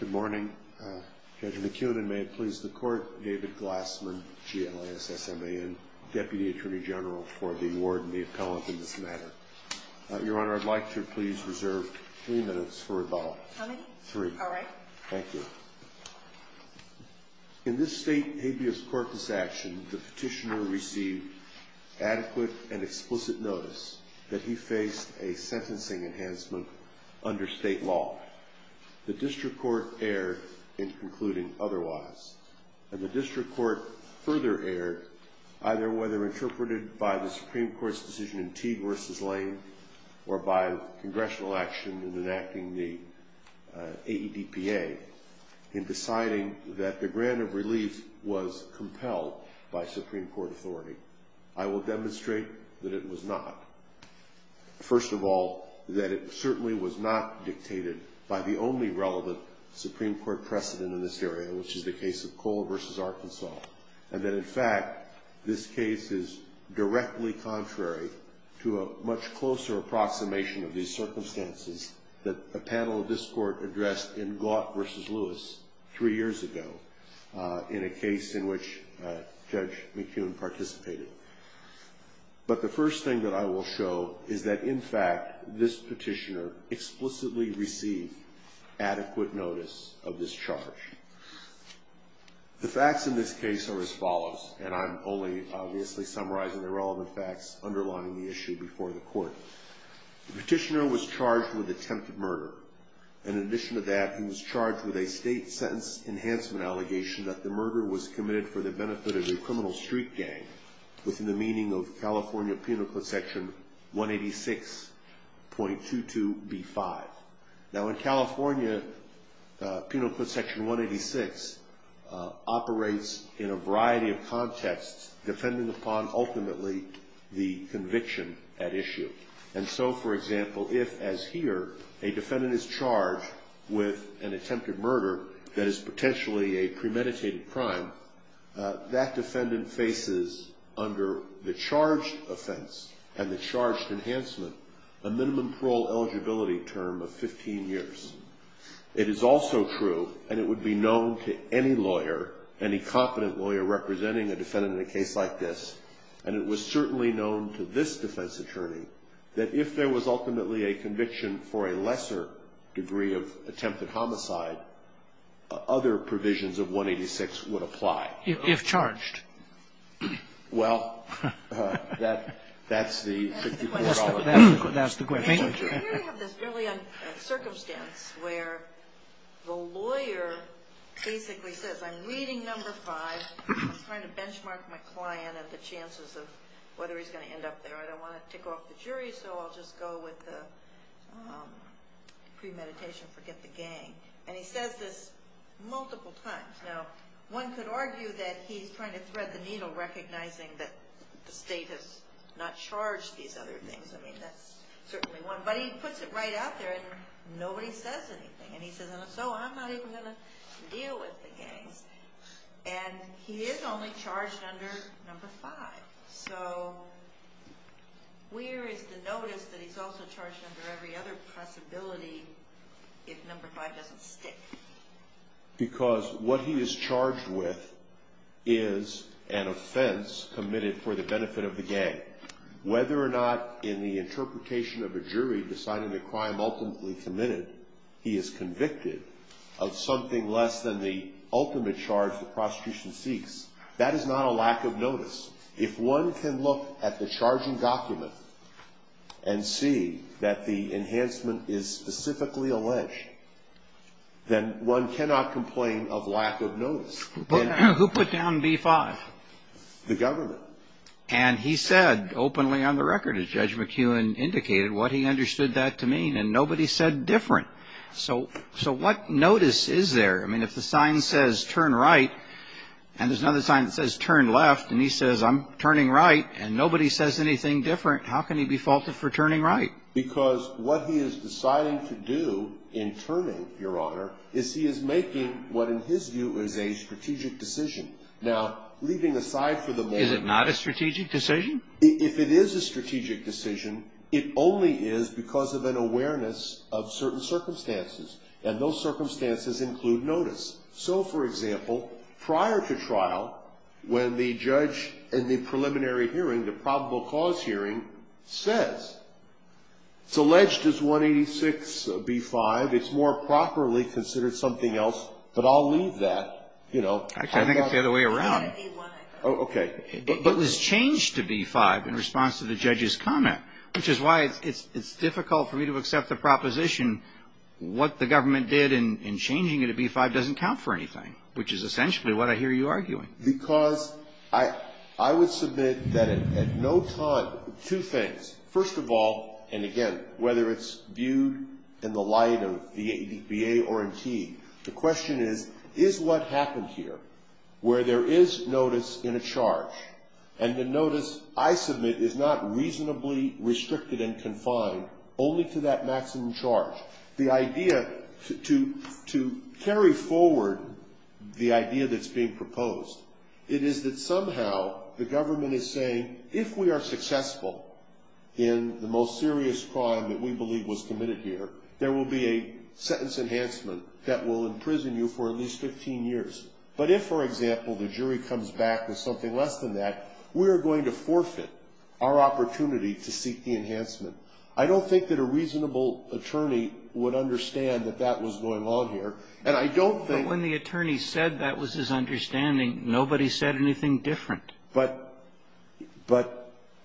Good morning, Judge McEwen, and may it please the Court, David Glassman, GLASMA, and Deputy Attorney General for the award and the appellate in this matter. Your Honor, I'd like to please reserve three minutes for rebuttal. How many? Three. All right. Thank you. In this state habeas corpus action, the petitioner received adequate and explicit notice that he faced a sentencing enhancement under state law. The district court erred in concluding otherwise. And the district court further erred, either whether interpreted by the Supreme Court's decision in Teague v. Lane or by congressional action in enacting the AEDPA, in deciding that the grant of relief was compelled by Supreme Court authority. I will demonstrate that it was not. First of all, that it certainly was not dictated by the only relevant Supreme Court precedent in this area, which is the case of Cole v. Arkansas. And that, in fact, this case is directly contrary to a much closer approximation of these circumstances that a panel of this Court addressed in Gaunt v. Lewis three years ago, in a case in which Judge McEwen participated. But the first thing that I will show is that, in fact, this petitioner explicitly received adequate notice of this charge. The facts in this case are as follows, and I'm only, obviously, summarizing the relevant facts underlying the issue before the Court. The petitioner was charged with attempted murder. In addition to that, he was charged with a state sentence enhancement allegation that the murder was committed for the benefit of a criminal street gang, within the meaning of California Penal Code Section 186.22b5. Now, in California, Penal Code Section 186 operates in a variety of contexts, depending upon, ultimately, the conviction at issue. And so, for example, if, as here, a defendant is charged with an attempted murder that is potentially a premeditated crime, that defendant faces, under the charged offense and the charged enhancement, a minimum parole eligibility term of 15 years. It is also true, and it would be known to any lawyer, any competent lawyer representing a defendant in a case like this, and it was certainly known to this defense attorney, that if there was, ultimately, a conviction for a lesser degree of attempted homicide, other provisions of 186 would apply. If charged. Well, that's the $64. That's the question. We have this circumstance where the lawyer basically says, I'm reading number five. I'm trying to benchmark my client and the chances of whether he's going to end up there. I don't want to tick off the jury, so I'll just go with the premeditation, forget the gang. And he says this multiple times. Now, one could argue that he's trying to thread the needle, recognizing that the state has not charged these other things. I mean, that's certainly one. But he puts it right out there, and nobody says anything. And he says, so I'm not even going to deal with the gangs. And he is only charged under number five. So where is the notice that he's also charged under every other possibility if number five doesn't stick? Because what he is charged with is an offense committed for the benefit of the gang. Whether or not in the interpretation of a jury deciding the crime ultimately committed, he is convicted of something less than the ultimate charge the prosecution seeks. That is not a lack of notice. If one can look at the charging document and see that the enhancement is specifically alleged, then one cannot complain of lack of notice. Who put down B-5? The government. And he said openly on the record, as Judge McKeown indicated, what he understood that to mean. And nobody said different. So what notice is there? I mean, if the sign says turn right, and there's another sign that says turn left, and he says I'm turning right, and nobody says anything different, how can he be faulted for turning right? Because what he is deciding to do in turning, Your Honor, is he is making what in his view is a strategic decision. Now, leaving aside for the moment. Is it not a strategic decision? If it is a strategic decision, it only is because of an awareness of certain circumstances. And those circumstances include notice. So, for example, prior to trial, when the judge in the preliminary hearing, the probable cause hearing, says it's alleged as 186B-5, it's more properly considered something else, but I'll leave that, you know. Actually, I think it's the other way around. Okay. But this changed to B-5 in response to the judge's comment, which is why it's difficult for me to accept the proposition. What the government did in changing it to B-5 doesn't count for anything, which is essentially what I hear you arguing. Because I would submit that at no time, two things. First of all, and again, whether it's viewed in the light of VA or NT, the question is, is what happened here, where there is notice in a charge, and the notice, I submit, is not reasonably restricted and confined only to that maximum charge. The idea to carry forward the idea that's being proposed, it is that somehow the government is saying, if we are successful in the most serious crime that we believe was committed here, there will be a sentence enhancement that will imprison you for at least 15 years. But if, for example, the jury comes back with something less than that, we are going to forfeit our opportunity to seek the enhancement. I don't think that a reasonable attorney would understand that that was going on here. And I don't think that when the attorney said that was his understanding, nobody said anything different. But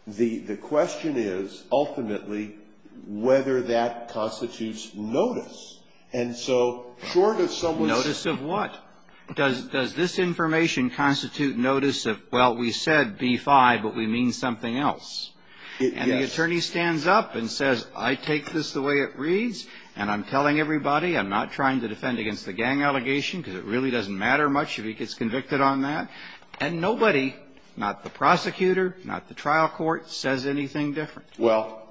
the question is, ultimately, whether that constitutes notice. And so short of someone's notice of what? Does this information constitute notice of, well, we said B-5, but we mean something else? And the attorney stands up and says, I take this the way it reads, and I'm telling everybody, I'm not trying to defend against the gang allegation because it really doesn't matter much if he gets convicted on that. And nobody, not the prosecutor, not the trial court, says anything different. Well,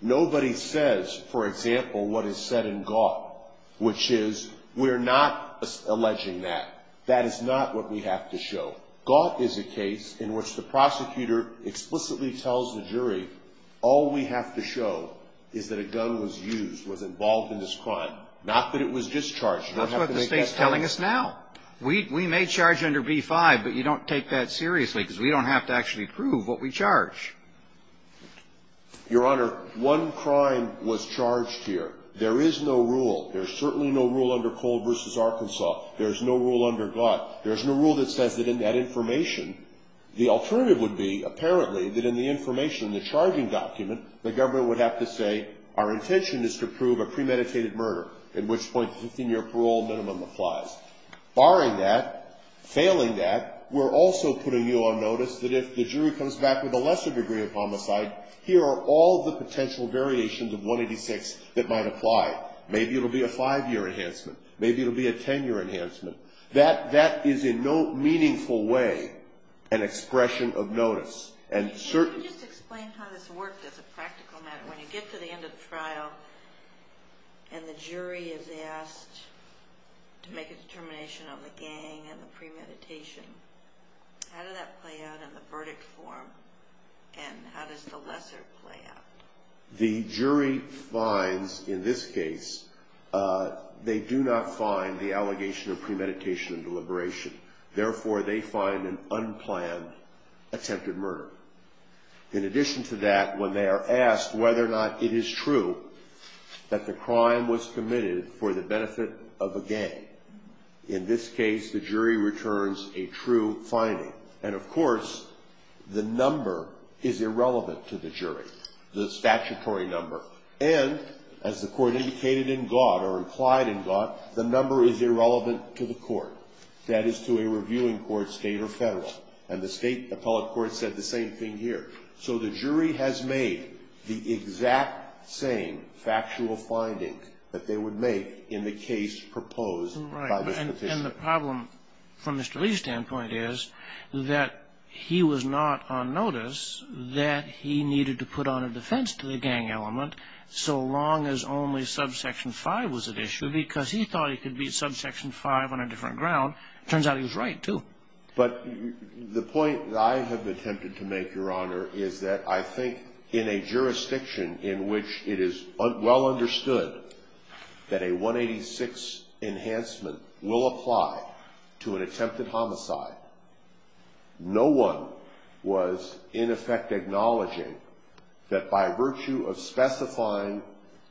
nobody says, for example, what is said in Gaught, which is we're not alleging that. That is not what we have to show. Gaught is a case in which the prosecutor explicitly tells the jury all we have to show is that a gun was used, was involved in this crime, not that it was discharged. That's what the State's telling us now. We may charge under B-5, but you don't take that seriously because we don't have to actually prove what we charge. Your Honor, one crime was charged here. There is no rule. There's certainly no rule under Cole v. Arkansas. There's no rule under Gaught. There's no rule that says that in that information, the alternative would be, apparently, that in the information in the charging document, the government would have to say, our intention is to prove a premeditated murder, in which point the 15-year parole minimum applies. Barring that, failing that, we're also putting you on notice that if the jury comes back with a lesser degree of homicide, here are all the potential variations of 186 that might apply. Maybe it'll be a 5-year enhancement. Maybe it'll be a 10-year enhancement. That is in no meaningful way an expression of notice. And certainly... Can you just explain how this worked as a practical matter? When you get to the end of the trial and the jury is asked to make a determination on the gang and the premeditation, how did that play out in the verdict form, and how does the lesser play out? The jury finds, in this case, they do not find the allegation of premeditation and deliberation. Therefore, they find an unplanned attempted murder. In addition to that, when they are asked whether or not it is true that the crime was committed for the benefit of a gang, in this case, the jury returns a true finding. And, of course, the number is irrelevant to the jury, the statutory number. And, as the court indicated in God or implied in God, the number is irrelevant to the court. That is to a reviewing court, state or federal. And the state appellate court said the same thing here. So the jury has made the exact same factual finding that they would make in the case proposed by this petition. And the problem, from Mr. Lee's standpoint, is that he was not on notice that he needed to put on a defense to the gang element, so long as only subsection 5 was at issue, because he thought he could beat subsection 5 on a different ground. It turns out he was right, too. But the point that I have attempted to make, Your Honor, is that I think in a jurisdiction in which it is well understood that a 186 enhancement will apply to an attempted homicide, no one was, in effect, acknowledging that by virtue of specifying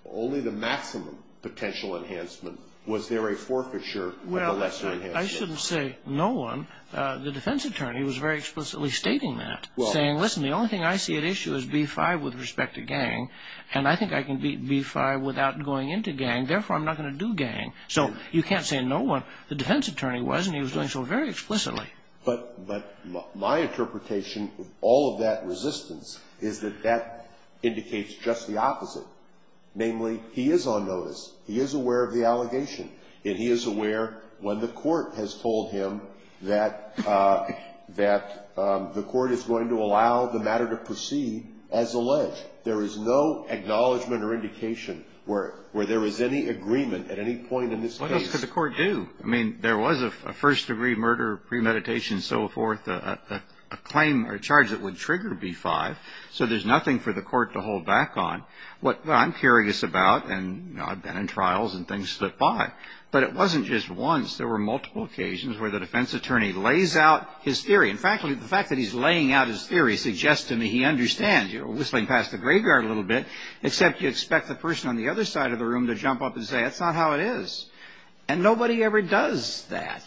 only the maximum potential enhancement, was there a forfeiture with a lesser enhancement. I shouldn't say no one. The defense attorney was very explicitly stating that, saying, listen, the only thing I see at issue is B-5 with respect to gang, and I think I can beat B-5 without going into gang. Therefore, I'm not going to do gang. So you can't say no one. The defense attorney was, and he was doing so very explicitly. But my interpretation of all of that resistance is that that indicates just the opposite, namely, he is on notice. He is aware of the allegation, and he is aware when the court has told him that the court is going to allow the matter to proceed as alleged. There is no acknowledgment or indication where there is any agreement at any point in this case. What else could the court do? I mean, there was a first-degree murder, premeditation, so forth, a claim or charge that would trigger B-5. So there's nothing for the court to hold back on. What I'm curious about, and I've been in trials and things slip by, but it wasn't just once. There were multiple occasions where the defense attorney lays out his theory. In fact, the fact that he's laying out his theory suggests to me he understands. You're whistling past the graveyard a little bit, except you expect the person on the other side of the room to jump up and say, that's not how it is. And nobody ever does that.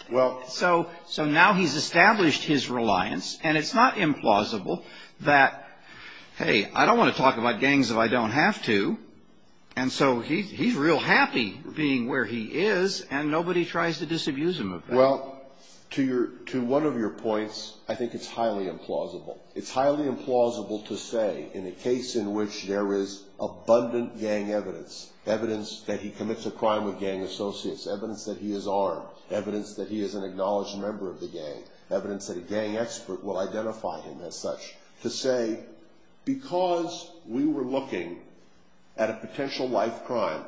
So now he's established his reliance, and it's not implausible that, hey, I don't want to talk about gangs if I don't have to. And so he's real happy being where he is, and nobody tries to disabuse him of that. Well, to one of your points, I think it's highly implausible. It's highly implausible to say in a case in which there is abundant gang evidence, evidence that he commits a crime with gang associates, evidence that he is armed, evidence that he is an acknowledged member of the gang, evidence that a gang expert will identify him as such, to say, because we were looking at a potential life crime,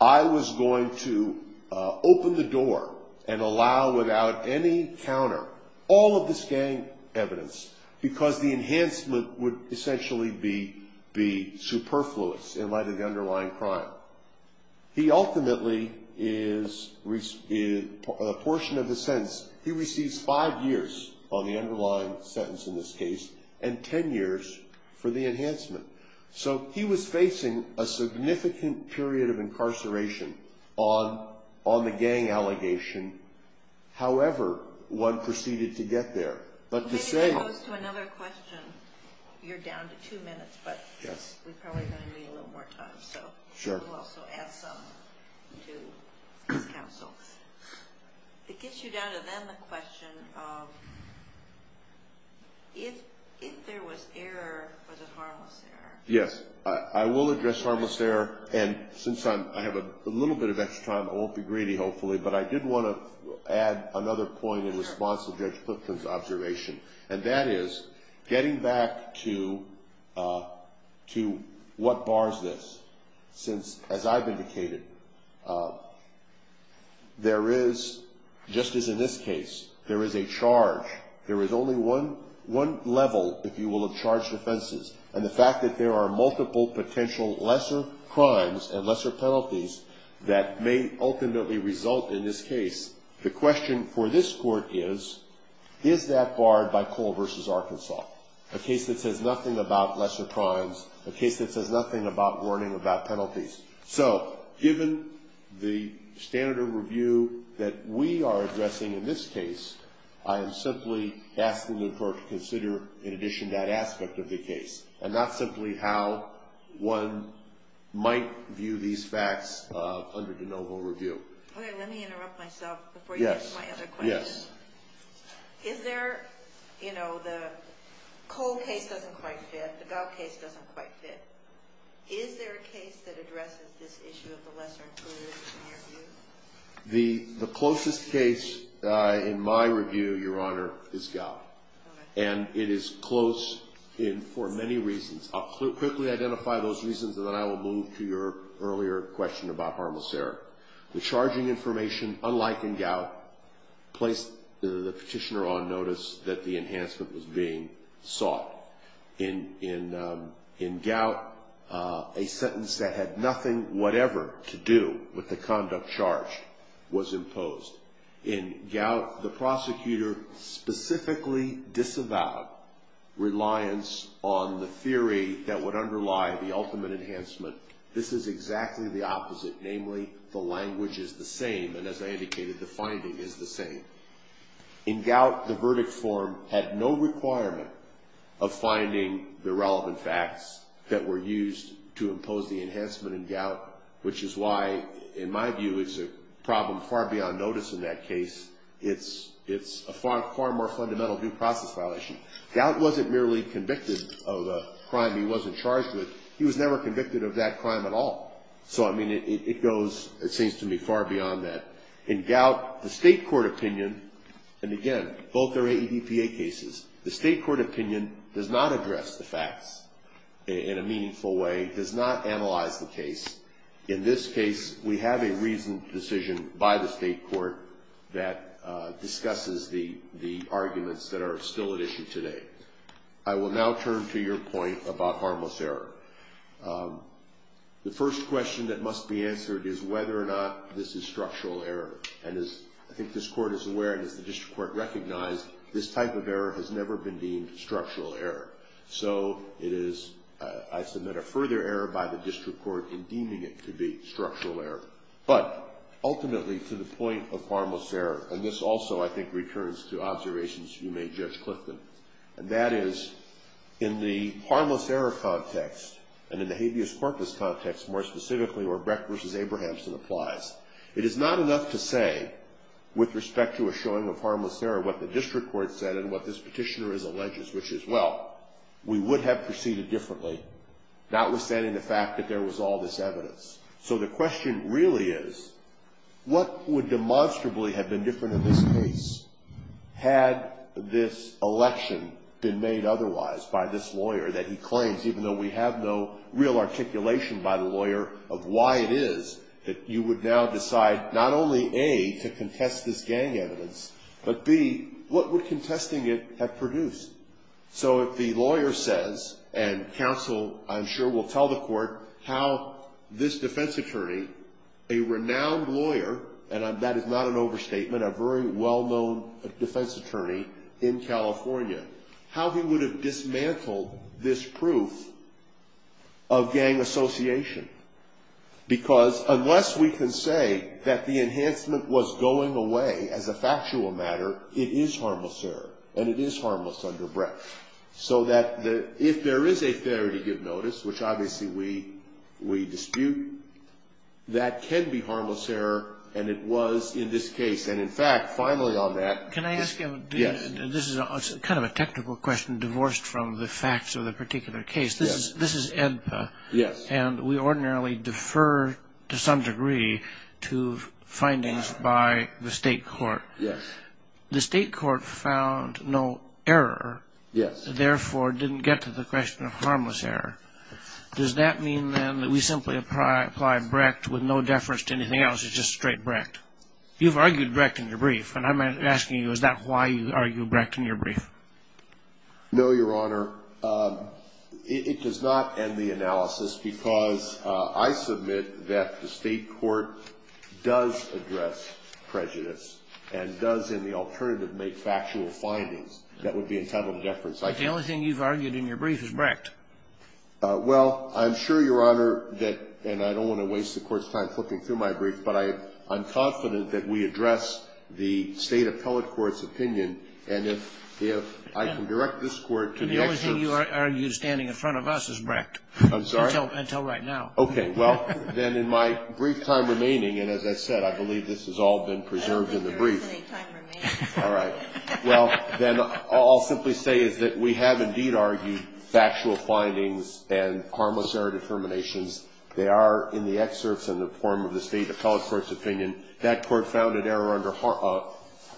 I was going to open the door and allow without any counter all of this gang evidence, because the enhancement would essentially be superfluous in light of the underlying crime. He ultimately is, a portion of the sentence, he receives five years on the underlying sentence in this case, and ten years for the enhancement. So he was facing a significant period of incarceration on the gang allegation, however one proceeded to get there. But to say... It gets you down to then the question of if there was error, was it harmless error? Yes, I will address harmless error, and since I have a little bit of extra time, I won't be greedy hopefully, but I did want to add another point in response to Judge Clifton's observation, and that is getting back to what bars this. Since, as I've indicated, there is, just as in this case, there is a charge. There is only one level, if you will, of charged offenses, and the fact that there are multiple potential lesser crimes and lesser penalties that may ultimately result in this case. The question for this Court is, is that barred by Cole v. Arkansas? A case that says nothing about lesser crimes, a case that says nothing about warning about penalties. So, given the standard of review that we are addressing in this case, I am simply asking the Court to consider, in addition, that aspect of the case, and not simply how one might view these facts under de novo review. Okay, let me interrupt myself before you get to my other question. Yes. Is there, you know, the Cole case doesn't quite fit, the Gough case doesn't quite fit. Is there a case that addresses this issue of the lesser included in your view? The closest case in my review, Your Honor, is Gough, and it is close for many reasons. I'll quickly identify those reasons, and then I will move to your earlier question about harmless error. The charging information, unlike in Gough, placed the petitioner on notice that the enhancement was being sought. In Gough, a sentence that had nothing whatever to do with the conduct charged was imposed. In Gough, the prosecutor specifically disavowed reliance on the theory that would underlie the ultimate enhancement. This is exactly the opposite, namely the language is the same, and as I indicated, the finding is the same. In Gough, the verdict form had no requirement of finding the relevant facts that were used to impose the enhancement in Gough, which is why, in my view, it's a problem far beyond notice in that case. It's a far more fundamental due process violation. Gough wasn't merely convicted of a crime he wasn't charged with. He was never convicted of that crime at all. So, I mean, it goes, it seems to me, far beyond that. In Gough, the state court opinion, and again, both are AEDPA cases, the state court opinion does not address the facts in a meaningful way, does not analyze the case. In this case, we have a reasoned decision by the state court that discusses the arguments that are still at issue today. I will now turn to your point about harmless error. The first question that must be answered is whether or not this is structural error. And as I think this court is aware, and as the district court recognized, this type of error has never been deemed structural error. So it is, I submit, a further error by the district court in deeming it to be structural error. But ultimately, to the point of harmless error, and this also, I think, returns to observations you made, Judge Clifton, and that is, in the harmless error context, and in the habeas corpus context, more specifically, where Brecht v. Abrahamson applies, it is not enough to say, with respect to a showing of harmless error, what the district court said and what this petitioner has alleged, which is, well, we would have proceeded differently, notwithstanding the fact that there was all this evidence. So the question really is, what would demonstrably have been different in this case had this election been made otherwise by this lawyer that he claims, even though we have no real articulation by the lawyer of why it is, that you would now decide not only, A, to contest this gang evidence, but, B, what would contesting it have produced? So if the lawyer says, and counsel, I'm sure, will tell the court, how this defense attorney, a renowned lawyer, and that is not an overstatement, a very well-known defense attorney in California, how he would have dismantled this proof of gang association? Because unless we can say that the enhancement was going away as a factual matter, it is harmless error, and it is harmless under Brecht. So that if there is a failure to give notice, which obviously we dispute, that can be harmless error, and it was in this case. And, in fact, finally on that ‑‑ Can I ask you a ‑‑ Yes. This is kind of a technical question divorced from the facts of the particular case. Yes. This is ENPA. Yes. And we ordinarily defer to some degree to findings by the state court. Yes. The state court found no error. Yes. Therefore didn't get to the question of harmless error. Does that mean, then, that we simply apply Brecht with no deference to anything else, it's just straight Brecht? You've argued Brecht in your brief, and I'm asking you, is that why you argue Brecht in your brief? No, Your Honor. It does not end the analysis because I submit that the state court does address prejudice and does, in the alternative, make factual findings that would be entitled to deference. The only thing you've argued in your brief is Brecht. Well, I'm sure, Your Honor, that ‑‑ and I don't want to waste the Court's time flipping through my brief, but I'm confident that we address the State Appellate Court's opinion, and if I can direct this Court to the ‑‑ The only thing you argued standing in front of us is Brecht. I'm sorry? Until right now. Okay. Well, then, in my brief time remaining, and as I said, I believe this has all been preserved in the brief. Your reasoning time remains. All right. Well, then, all I'll simply say is that we have, indeed, argued factual findings and harmless error determinations. They are in the excerpts in the form of the State Appellate Court's opinion. That Court found an error under ‑‑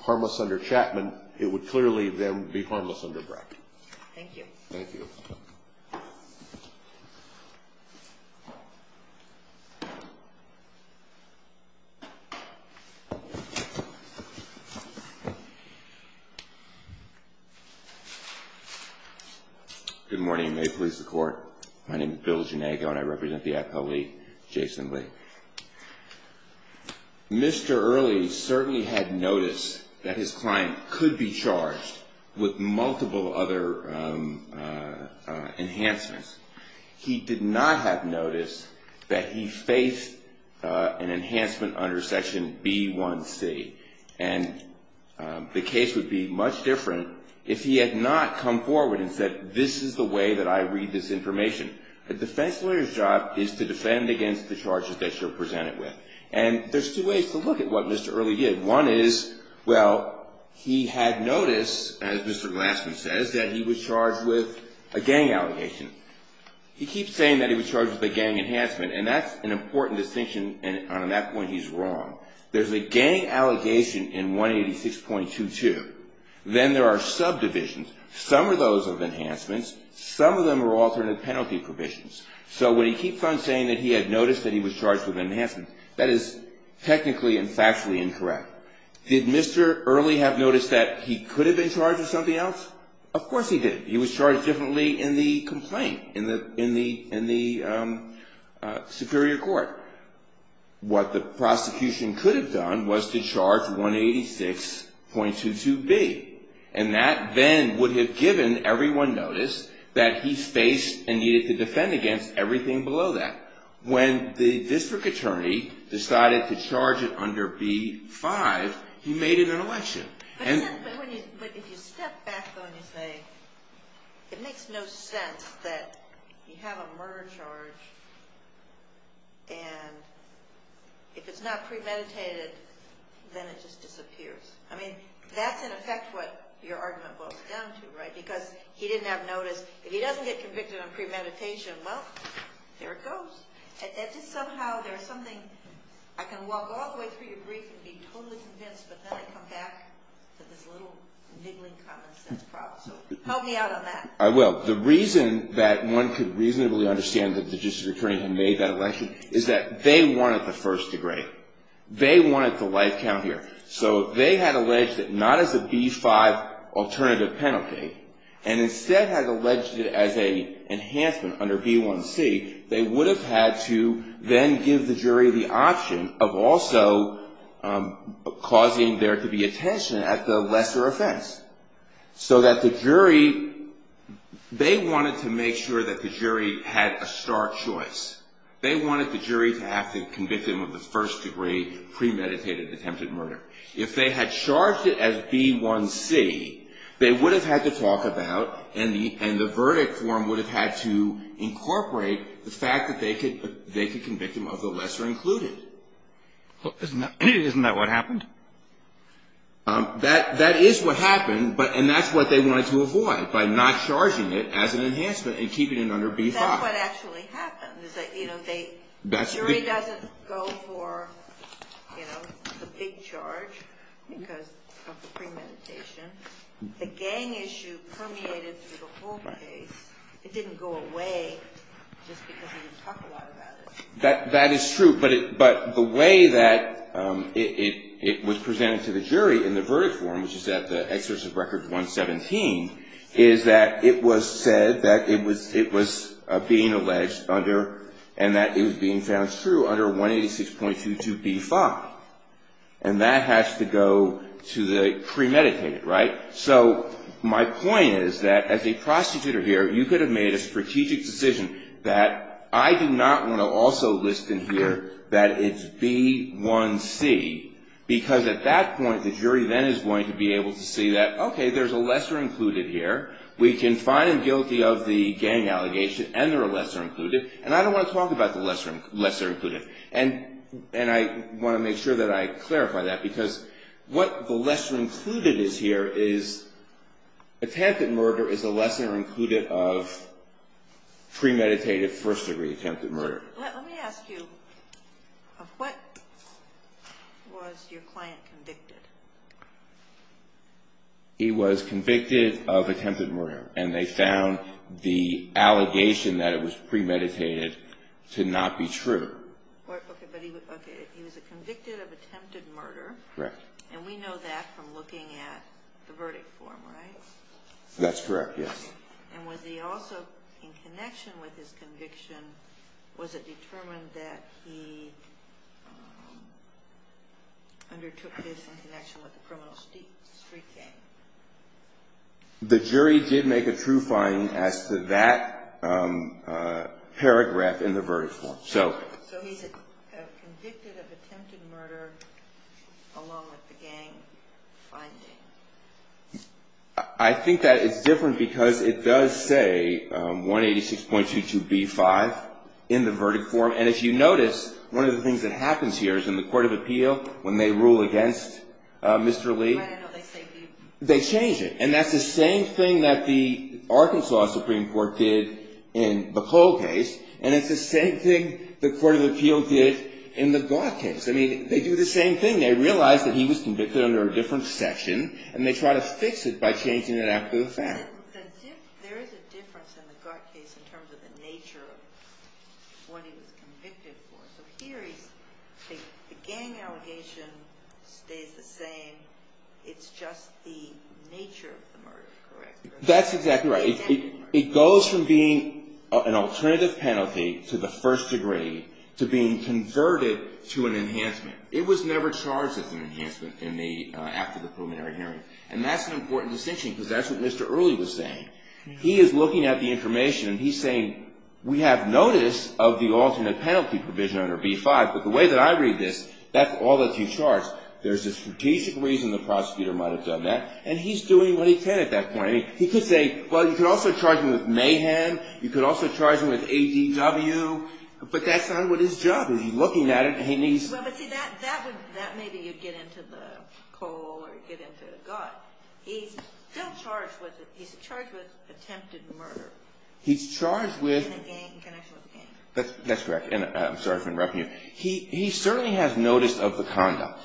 harmless under Chapman. It would clearly, then, be harmless under Brecht. Thank you. Thank you. Thank you. Good morning. May it please the Court. My name is Bill Ginego, and I represent the appellee, Jason Lee. Mr. Earley certainly had noticed that his client could be charged with multiple other enhancements. He did not have noticed that he faced an enhancement under Section B1c. And the case would be much different if he had not come forward and said, this is the way that I read this information. A defense lawyer's job is to defend against the charges that you're presented with. And there's two ways to look at what Mr. Earley did. One is, well, he had noticed, as Mr. Glassman says, that he was charged with a gang allegation. He keeps saying that he was charged with a gang enhancement, and that's an important distinction, and on that point, he's wrong. There's a gang allegation in 186.22. Then there are subdivisions. Some are those of enhancements. Some of them are alternate penalty provisions. So when he keeps on saying that he had noticed that he was charged with enhancements, that is technically and factually incorrect. Did Mr. Earley have noticed that he could have been charged with something else? Of course he did. He was charged differently in the complaint, in the superior court. What the prosecution could have done was to charge 186.22b. And that then would have given everyone notice that he faced and needed to defend against everything below that. When the district attorney decided to charge it under b-5, he made it an election. But if you step back on his name, it makes no sense that you have a murder charge, and if it's not premeditated, then it just disappears. I mean, that's in effect what your argument boils down to, right? Because he didn't have notice. If he doesn't get convicted on premeditation, well, there it goes. Just somehow there's something. I can walk all the way through your brief and be totally convinced, but then I come back to this little niggling common sense problem. So help me out on that. I will. The reason that one could reasonably understand that the district attorney had made that election is that they wanted the first degree. They wanted the life count here. So they had alleged that not as a b-5 alternative penalty, and instead had alleged it as an enhancement under b-1c, they would have had to then give the jury the option of also causing there to be attention at the lesser offense. So that the jury, they wanted to make sure that the jury had a stark choice. They wanted the jury to have to convict him of the first degree premeditated attempted murder. If they had charged it as b-1c, they would have had to talk about, and the verdict form would have had to incorporate the fact that they could convict him of the lesser included. Isn't that what happened? That is what happened, and that's what they wanted to avoid, by not charging it as an enhancement and keeping it under b-5. And that's what actually happened, is that the jury doesn't go for the big charge because of the premeditation. The gang issue permeated through the whole case. It didn't go away just because we didn't talk a lot about it. That is true, but the way that it was presented to the jury in the verdict form, which is at the excerpt of record 117, is that it was said that it was being alleged under, and that it was being found true under 186.22b-5. And that has to go to the premeditated, right? So my point is that as a prostitutor here, you could have made a strategic decision that I do not want to also list in here that it's b-1c, because at that point, the jury then is going to be able to see that, okay, there's a lesser included here. We can find him guilty of the gang allegation, and they're a lesser included, and I don't want to talk about the lesser included. And I want to make sure that I clarify that, because what the lesser included is here is attempted murder is a lesser included of premeditated, first-degree attempted murder. Let me ask you, what was your client convicted? He was convicted of attempted murder, and they found the allegation that it was premeditated to not be true. Okay, but he was convicted of attempted murder. Correct. And we know that from looking at the verdict form, right? That's correct, yes. And was he also, in connection with his conviction, was it determined that he undertook this in connection with the criminal street gang? The jury did make a true finding as to that paragraph in the verdict form. So he's convicted of attempted murder along with the gang finding. I think that it's different because it does say 186.22b-5 in the verdict form. And if you notice, one of the things that happens here is in the court of appeal, when they rule against Mr. Lee, they change it. And that's the same thing that the Arkansas Supreme Court did in the Cole case, and it's the same thing the court of appeal did in the Gough case. I mean, they do the same thing. They realize that he was convicted under a different section, and they try to fix it by changing it after the fact. But there is a difference in the Gough case in terms of the nature of what he was convicted for. So here, the gang allegation stays the same. It's just the nature of the murder, correct? That's exactly right. It goes from being an alternative penalty to the first degree to being converted to an enhancement. It was never charged as an enhancement after the preliminary hearing. And that's an important distinction because that's what Mr. Early was saying. He is looking at the information, and he's saying, we have notice of the alternate penalty provision under B-5, but the way that I read this, that's all that he charged. There's a strategic reason the prosecutor might have done that, and he's doing what he can at that point. I mean, he could say, well, you could also charge him with mayhem. You could also charge him with ADW. But that's not what his job is. Well, but see, that maybe you'd get into the Cole or you'd get into the Gough. He's still charged with it. He's charged with attempted murder in connection with the gang. That's correct. And I'm sorry if I'm interrupting you. He certainly has notice of the conduct.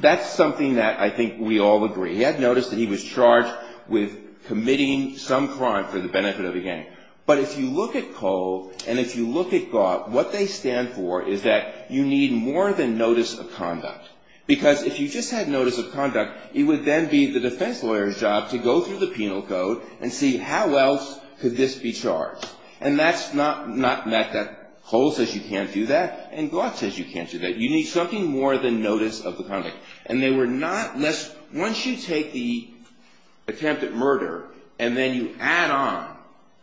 That's something that I think we all agree. He had notice that he was charged with committing some crime for the benefit of a gang. But if you look at Cole and if you look at Gough, what they stand for is that you need more than notice of conduct. Because if you just had notice of conduct, it would then be the defense lawyer's job to go through the penal code and see how else could this be charged. And that's not that Cole says you can't do that and Gough says you can't do that. You need something more than notice of the conduct. And they were not less, once you take the attempted murder and then you add on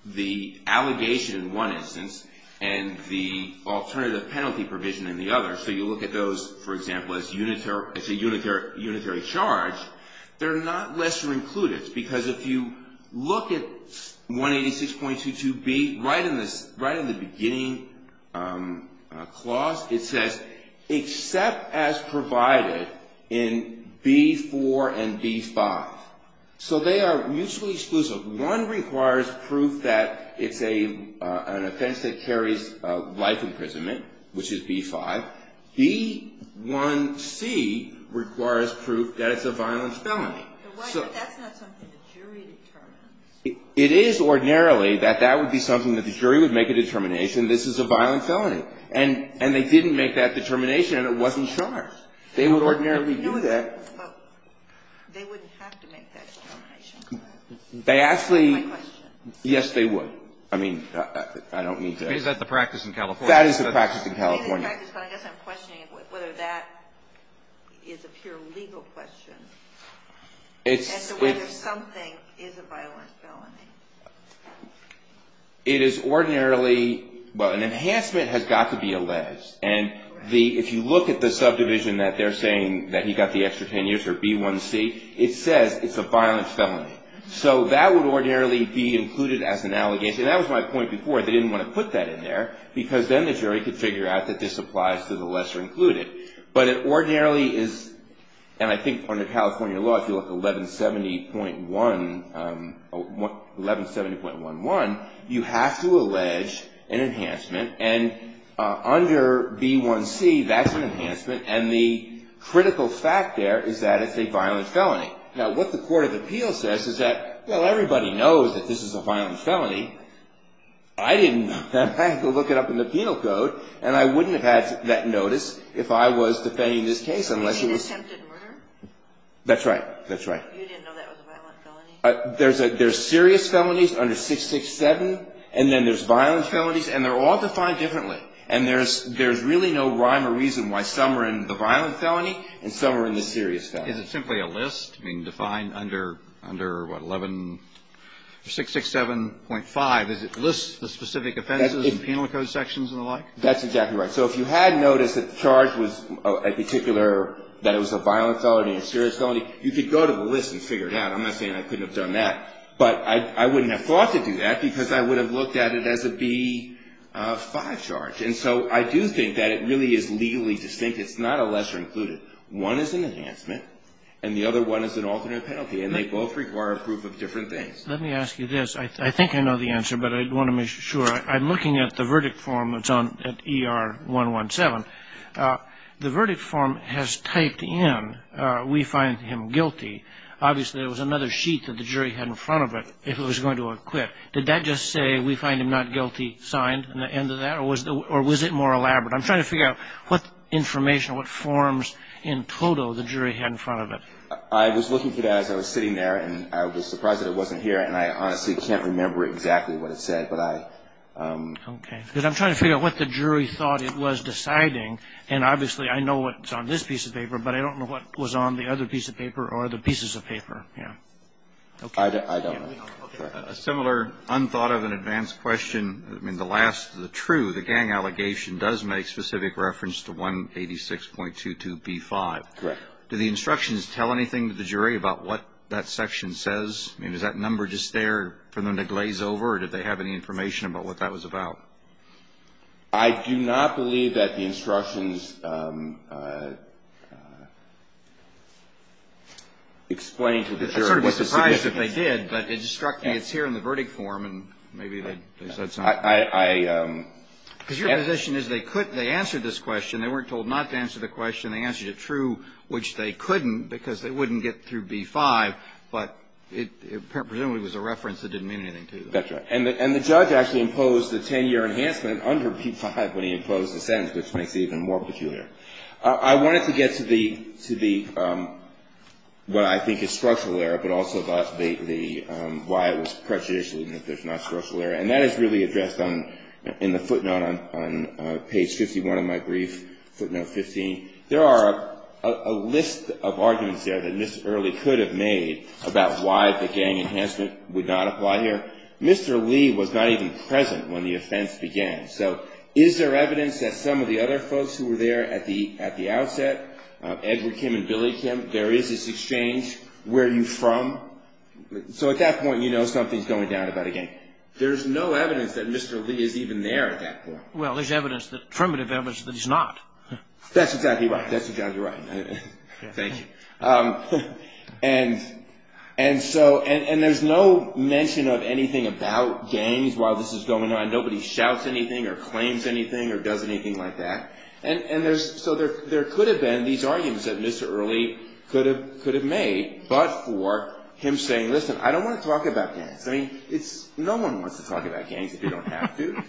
the allegation in one instance and the alternative penalty provision in the other, so you look at those, for example, as a unitary charge, they're not lesser included. Because if you look at 186.22B, right in the beginning clause, it says except as provided in B4 and B5. So they are mutually exclusive. One requires proof that it's an offense that carries life imprisonment, which is B5. B1C requires proof that it's a violent felony. So that's not something the jury determines. It is ordinarily that that would be something that the jury would make a determination. This is a violent felony. And they didn't make that determination and it wasn't charged. They would ordinarily do that. But they wouldn't have to make that determination. They actually – That's my question. Yes, they would. I mean, I don't mean to – Is that the practice in California? That is the practice in California. I guess I'm questioning whether that is a pure legal question as to whether something is a violent felony. It is ordinarily – well, an enhancement has got to be alleged. And if you look at the subdivision that they're saying that he got the extra 10 years for B1C, it says it's a violent felony. So that would ordinarily be included as an allegation. That was my point before. They didn't want to put that in there because then the jury could figure out that this applies to the lesser included. But it ordinarily is – and I think under California law, if you look at 1170.11, you have to allege an enhancement. And under B1C, that's an enhancement. And the critical fact there is that it's a violent felony. Now, what the court of appeals says is that, well, everybody knows that this is a violent felony. I didn't. I had to look it up in the penal code. And I wouldn't have had that notice if I was defending this case unless it was – Was it an attempted murder? That's right. That's right. You didn't know that was a violent felony? There's serious felonies under 667. And then there's violent felonies. And they're all defined differently. And there's really no rhyme or reason why some are in the violent felony and some are in the serious felony. Is it simply a list? I mean, defined under what, 11 – 667.5, is it lists the specific offenses and penal code sections and the like? That's exactly right. So if you had noticed that the charge was a particular – that it was a violent felony and a serious felony, you could go to the list and figure it out. I'm not saying I couldn't have done that. But I wouldn't have thought to do that because I would have looked at it as a B5 charge. And so I do think that it really is legally distinct. It's not a lesser included. One is an enhancement, and the other one is an alternate penalty. And they both require a proof of different things. Let me ask you this. I think I know the answer, but I want to make sure. I'm looking at the verdict form that's on ER-117. The verdict form has typed in, we find him guilty. Obviously, there was another sheet that the jury had in front of it if it was going to acquit. Did that just say, we find him not guilty, signed at the end of that? Or was it more elaborate? I'm trying to figure out what information, what forms in total the jury had in front of it. I was looking for that as I was sitting there, and I was surprised that it wasn't here. And I honestly can't remember exactly what it said. But I – Okay. Because I'm trying to figure out what the jury thought it was deciding. And obviously, I know what's on this piece of paper, but I don't know what was on the other piece of paper or the pieces of paper. Yeah. Okay. I don't know. A similar unthought-of and advanced question. I mean, the last, the true, the gang allegation does make specific reference to 186.22b-5. Correct. Do the instructions tell anything to the jury about what that section says? I mean, is that number just there for them to glaze over, or did they have any information about what that was about? I do not believe that the instructions explain to the jury. I would sort of be surprised if they did, but it struck me it's here in the verdict form, and maybe they said something. I – Because your position is they could – they answered this question. They weren't told not to answer the question. They answered it true, which they couldn't because they wouldn't get through B-5. But it presumably was a reference that didn't mean anything to them. That's right. And the judge actually imposed the 10-year enhancement under B-5 when he imposed the sentence, which makes it even more peculiar. I wanted to get to the – what I think is structural error, but also about the – why it was prejudicial even if there's not structural error. And that is really addressed in the footnote on page 51 of my brief, footnote 15. There are a list of arguments there that Mr. Early could have made about why the gang enhancement would not apply here. Mr. Lee was not even present when the offense began. So is there evidence that some of the other folks who were there at the outset, Edward Kim and Billy Kim, there is this exchange? Where are you from? So at that point, you know something's going down about a gang. There's no evidence that Mr. Lee is even there at that point. Well, there's evidence that – affirmative evidence that he's not. That's exactly right. That's exactly right. Thank you. And so – and there's no mention of anything about gangs while this is going on. Nobody shouts anything or claims anything or does anything like that. And there's – so there could have been these arguments that Mr. Early could have made, but for him saying, listen, I don't want to talk about gangs. I mean, it's – no one wants to talk about gangs if you don't have to.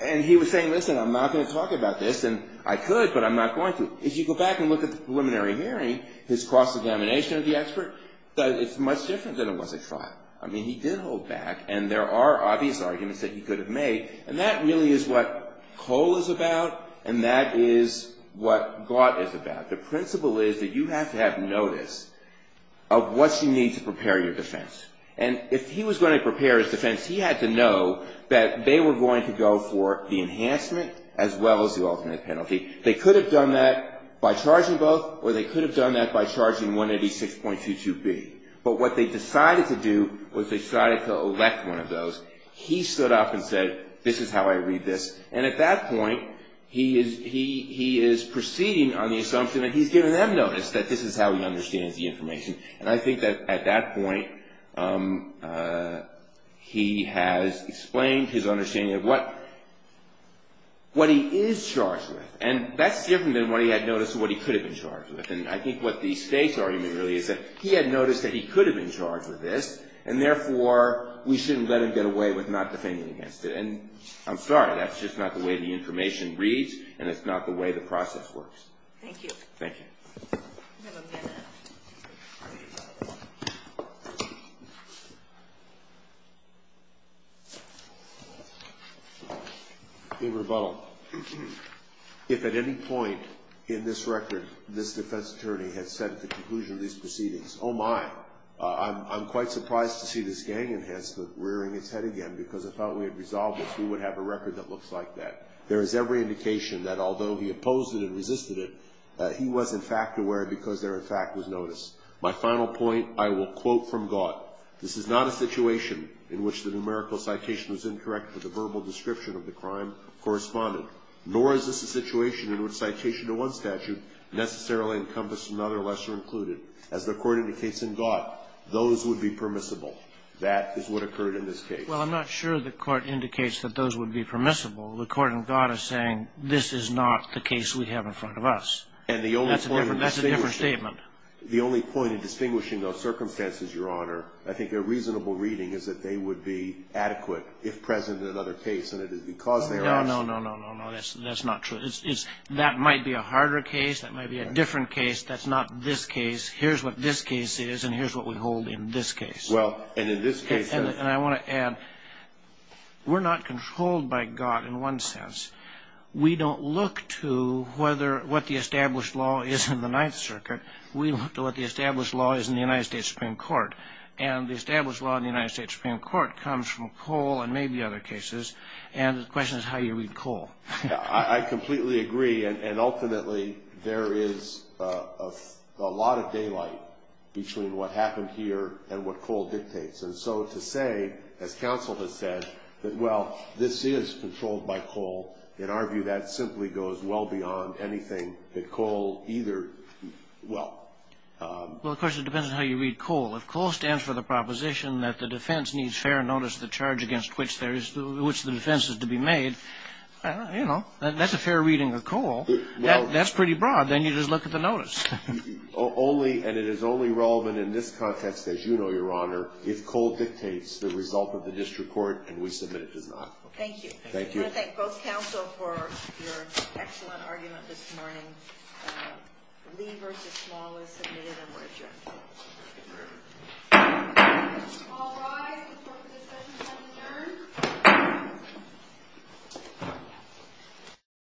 And he was saying, listen, I'm not going to talk about this. And I could, but I'm not going to. If you go back and look at the preliminary hearing, his cross-examination of the expert, it's much different than it was at trial. I mean, he did hold back, and there are obvious arguments that he could have made, and that really is what COLE is about and that is what GAWT is about. The principle is that you have to have notice of what you need to prepare your defense. And if he was going to prepare his defense, he had to know that they were going to go for the enhancement as well as the alternate penalty. They could have done that by charging both or they could have done that by charging 186.22B. But what they decided to do was they decided to elect one of those. He stood up and said, this is how I read this. And at that point, he is proceeding on the assumption that he's given them notice that this is how he understands the information. And I think that at that point, he has explained his understanding of what he is charged with. And that's different than what he had noticed what he could have been charged with. And I think what the state's argument really is that he had noticed that he could have been charged with this, and therefore, we shouldn't let him get away with not defending against it. And I'm sorry, that's just not the way the information reads, and it's not the way the process works. Thank you. Thank you. We have a minute. In rebuttal, if at any point in this record this defense attorney had said at the conclusion of these proceedings, oh, my, I'm quite surprised to see this gang enhancement rearing its head again because I thought we had resolved this. Who would have a record that looks like that? There is every indication that although he opposed it and resisted it, he was, in fact, aware because there, in fact, was notice. My final point, I will quote from Gott. This is not a situation in which the numerical citation was incorrect or the verbal description of the crime corresponded, nor is this a situation in which citation to one statute necessarily encompassed another lesser included. As the Court indicates in Gott, those would be permissible. That is what occurred in this case. Well, I'm not sure the Court indicates that those would be permissible. The Court in Gott is saying this is not the case we have in front of us. That's a different statement. The only point in distinguishing those circumstances, Your Honor, I think a reasonable reading is that they would be adequate if present in another case, and it is because they are. No, no, no, no, no, that's not true. That might be a harder case. That might be a different case. That's not this case. Here's what this case is, and here's what we hold in this case. Well, and in this case. And I want to add, we're not controlled by Gott in one sense. We don't look to what the established law is in the Ninth Circuit. We look to what the established law is in the United States Supreme Court, and the established law in the United States Supreme Court comes from Cole and maybe other cases, and the question is how you read Cole. I completely agree, and ultimately there is a lot of daylight between what happened here and what Cole dictates. And so to say, as counsel has said, that, well, this is controlled by Cole, in our view that simply goes well beyond anything that Cole either, well. Well, of course, it depends on how you read Cole. If Cole stands for the proposition that the defense needs fair notice of the charge against which the defense is to be made, you know, that's a fair reading of Cole. That's pretty broad. Then you just look at the notice. Only, and it is only relevant in this context, as you know, Your Honor, if Cole dictates the result of the district court and we submit it does not. Thank you. Thank you. I want to thank both counsel for your excellent argument this morning. Lee v. Small is submitted and we're adjourned. All rise. The Court of Discussions has adjourned.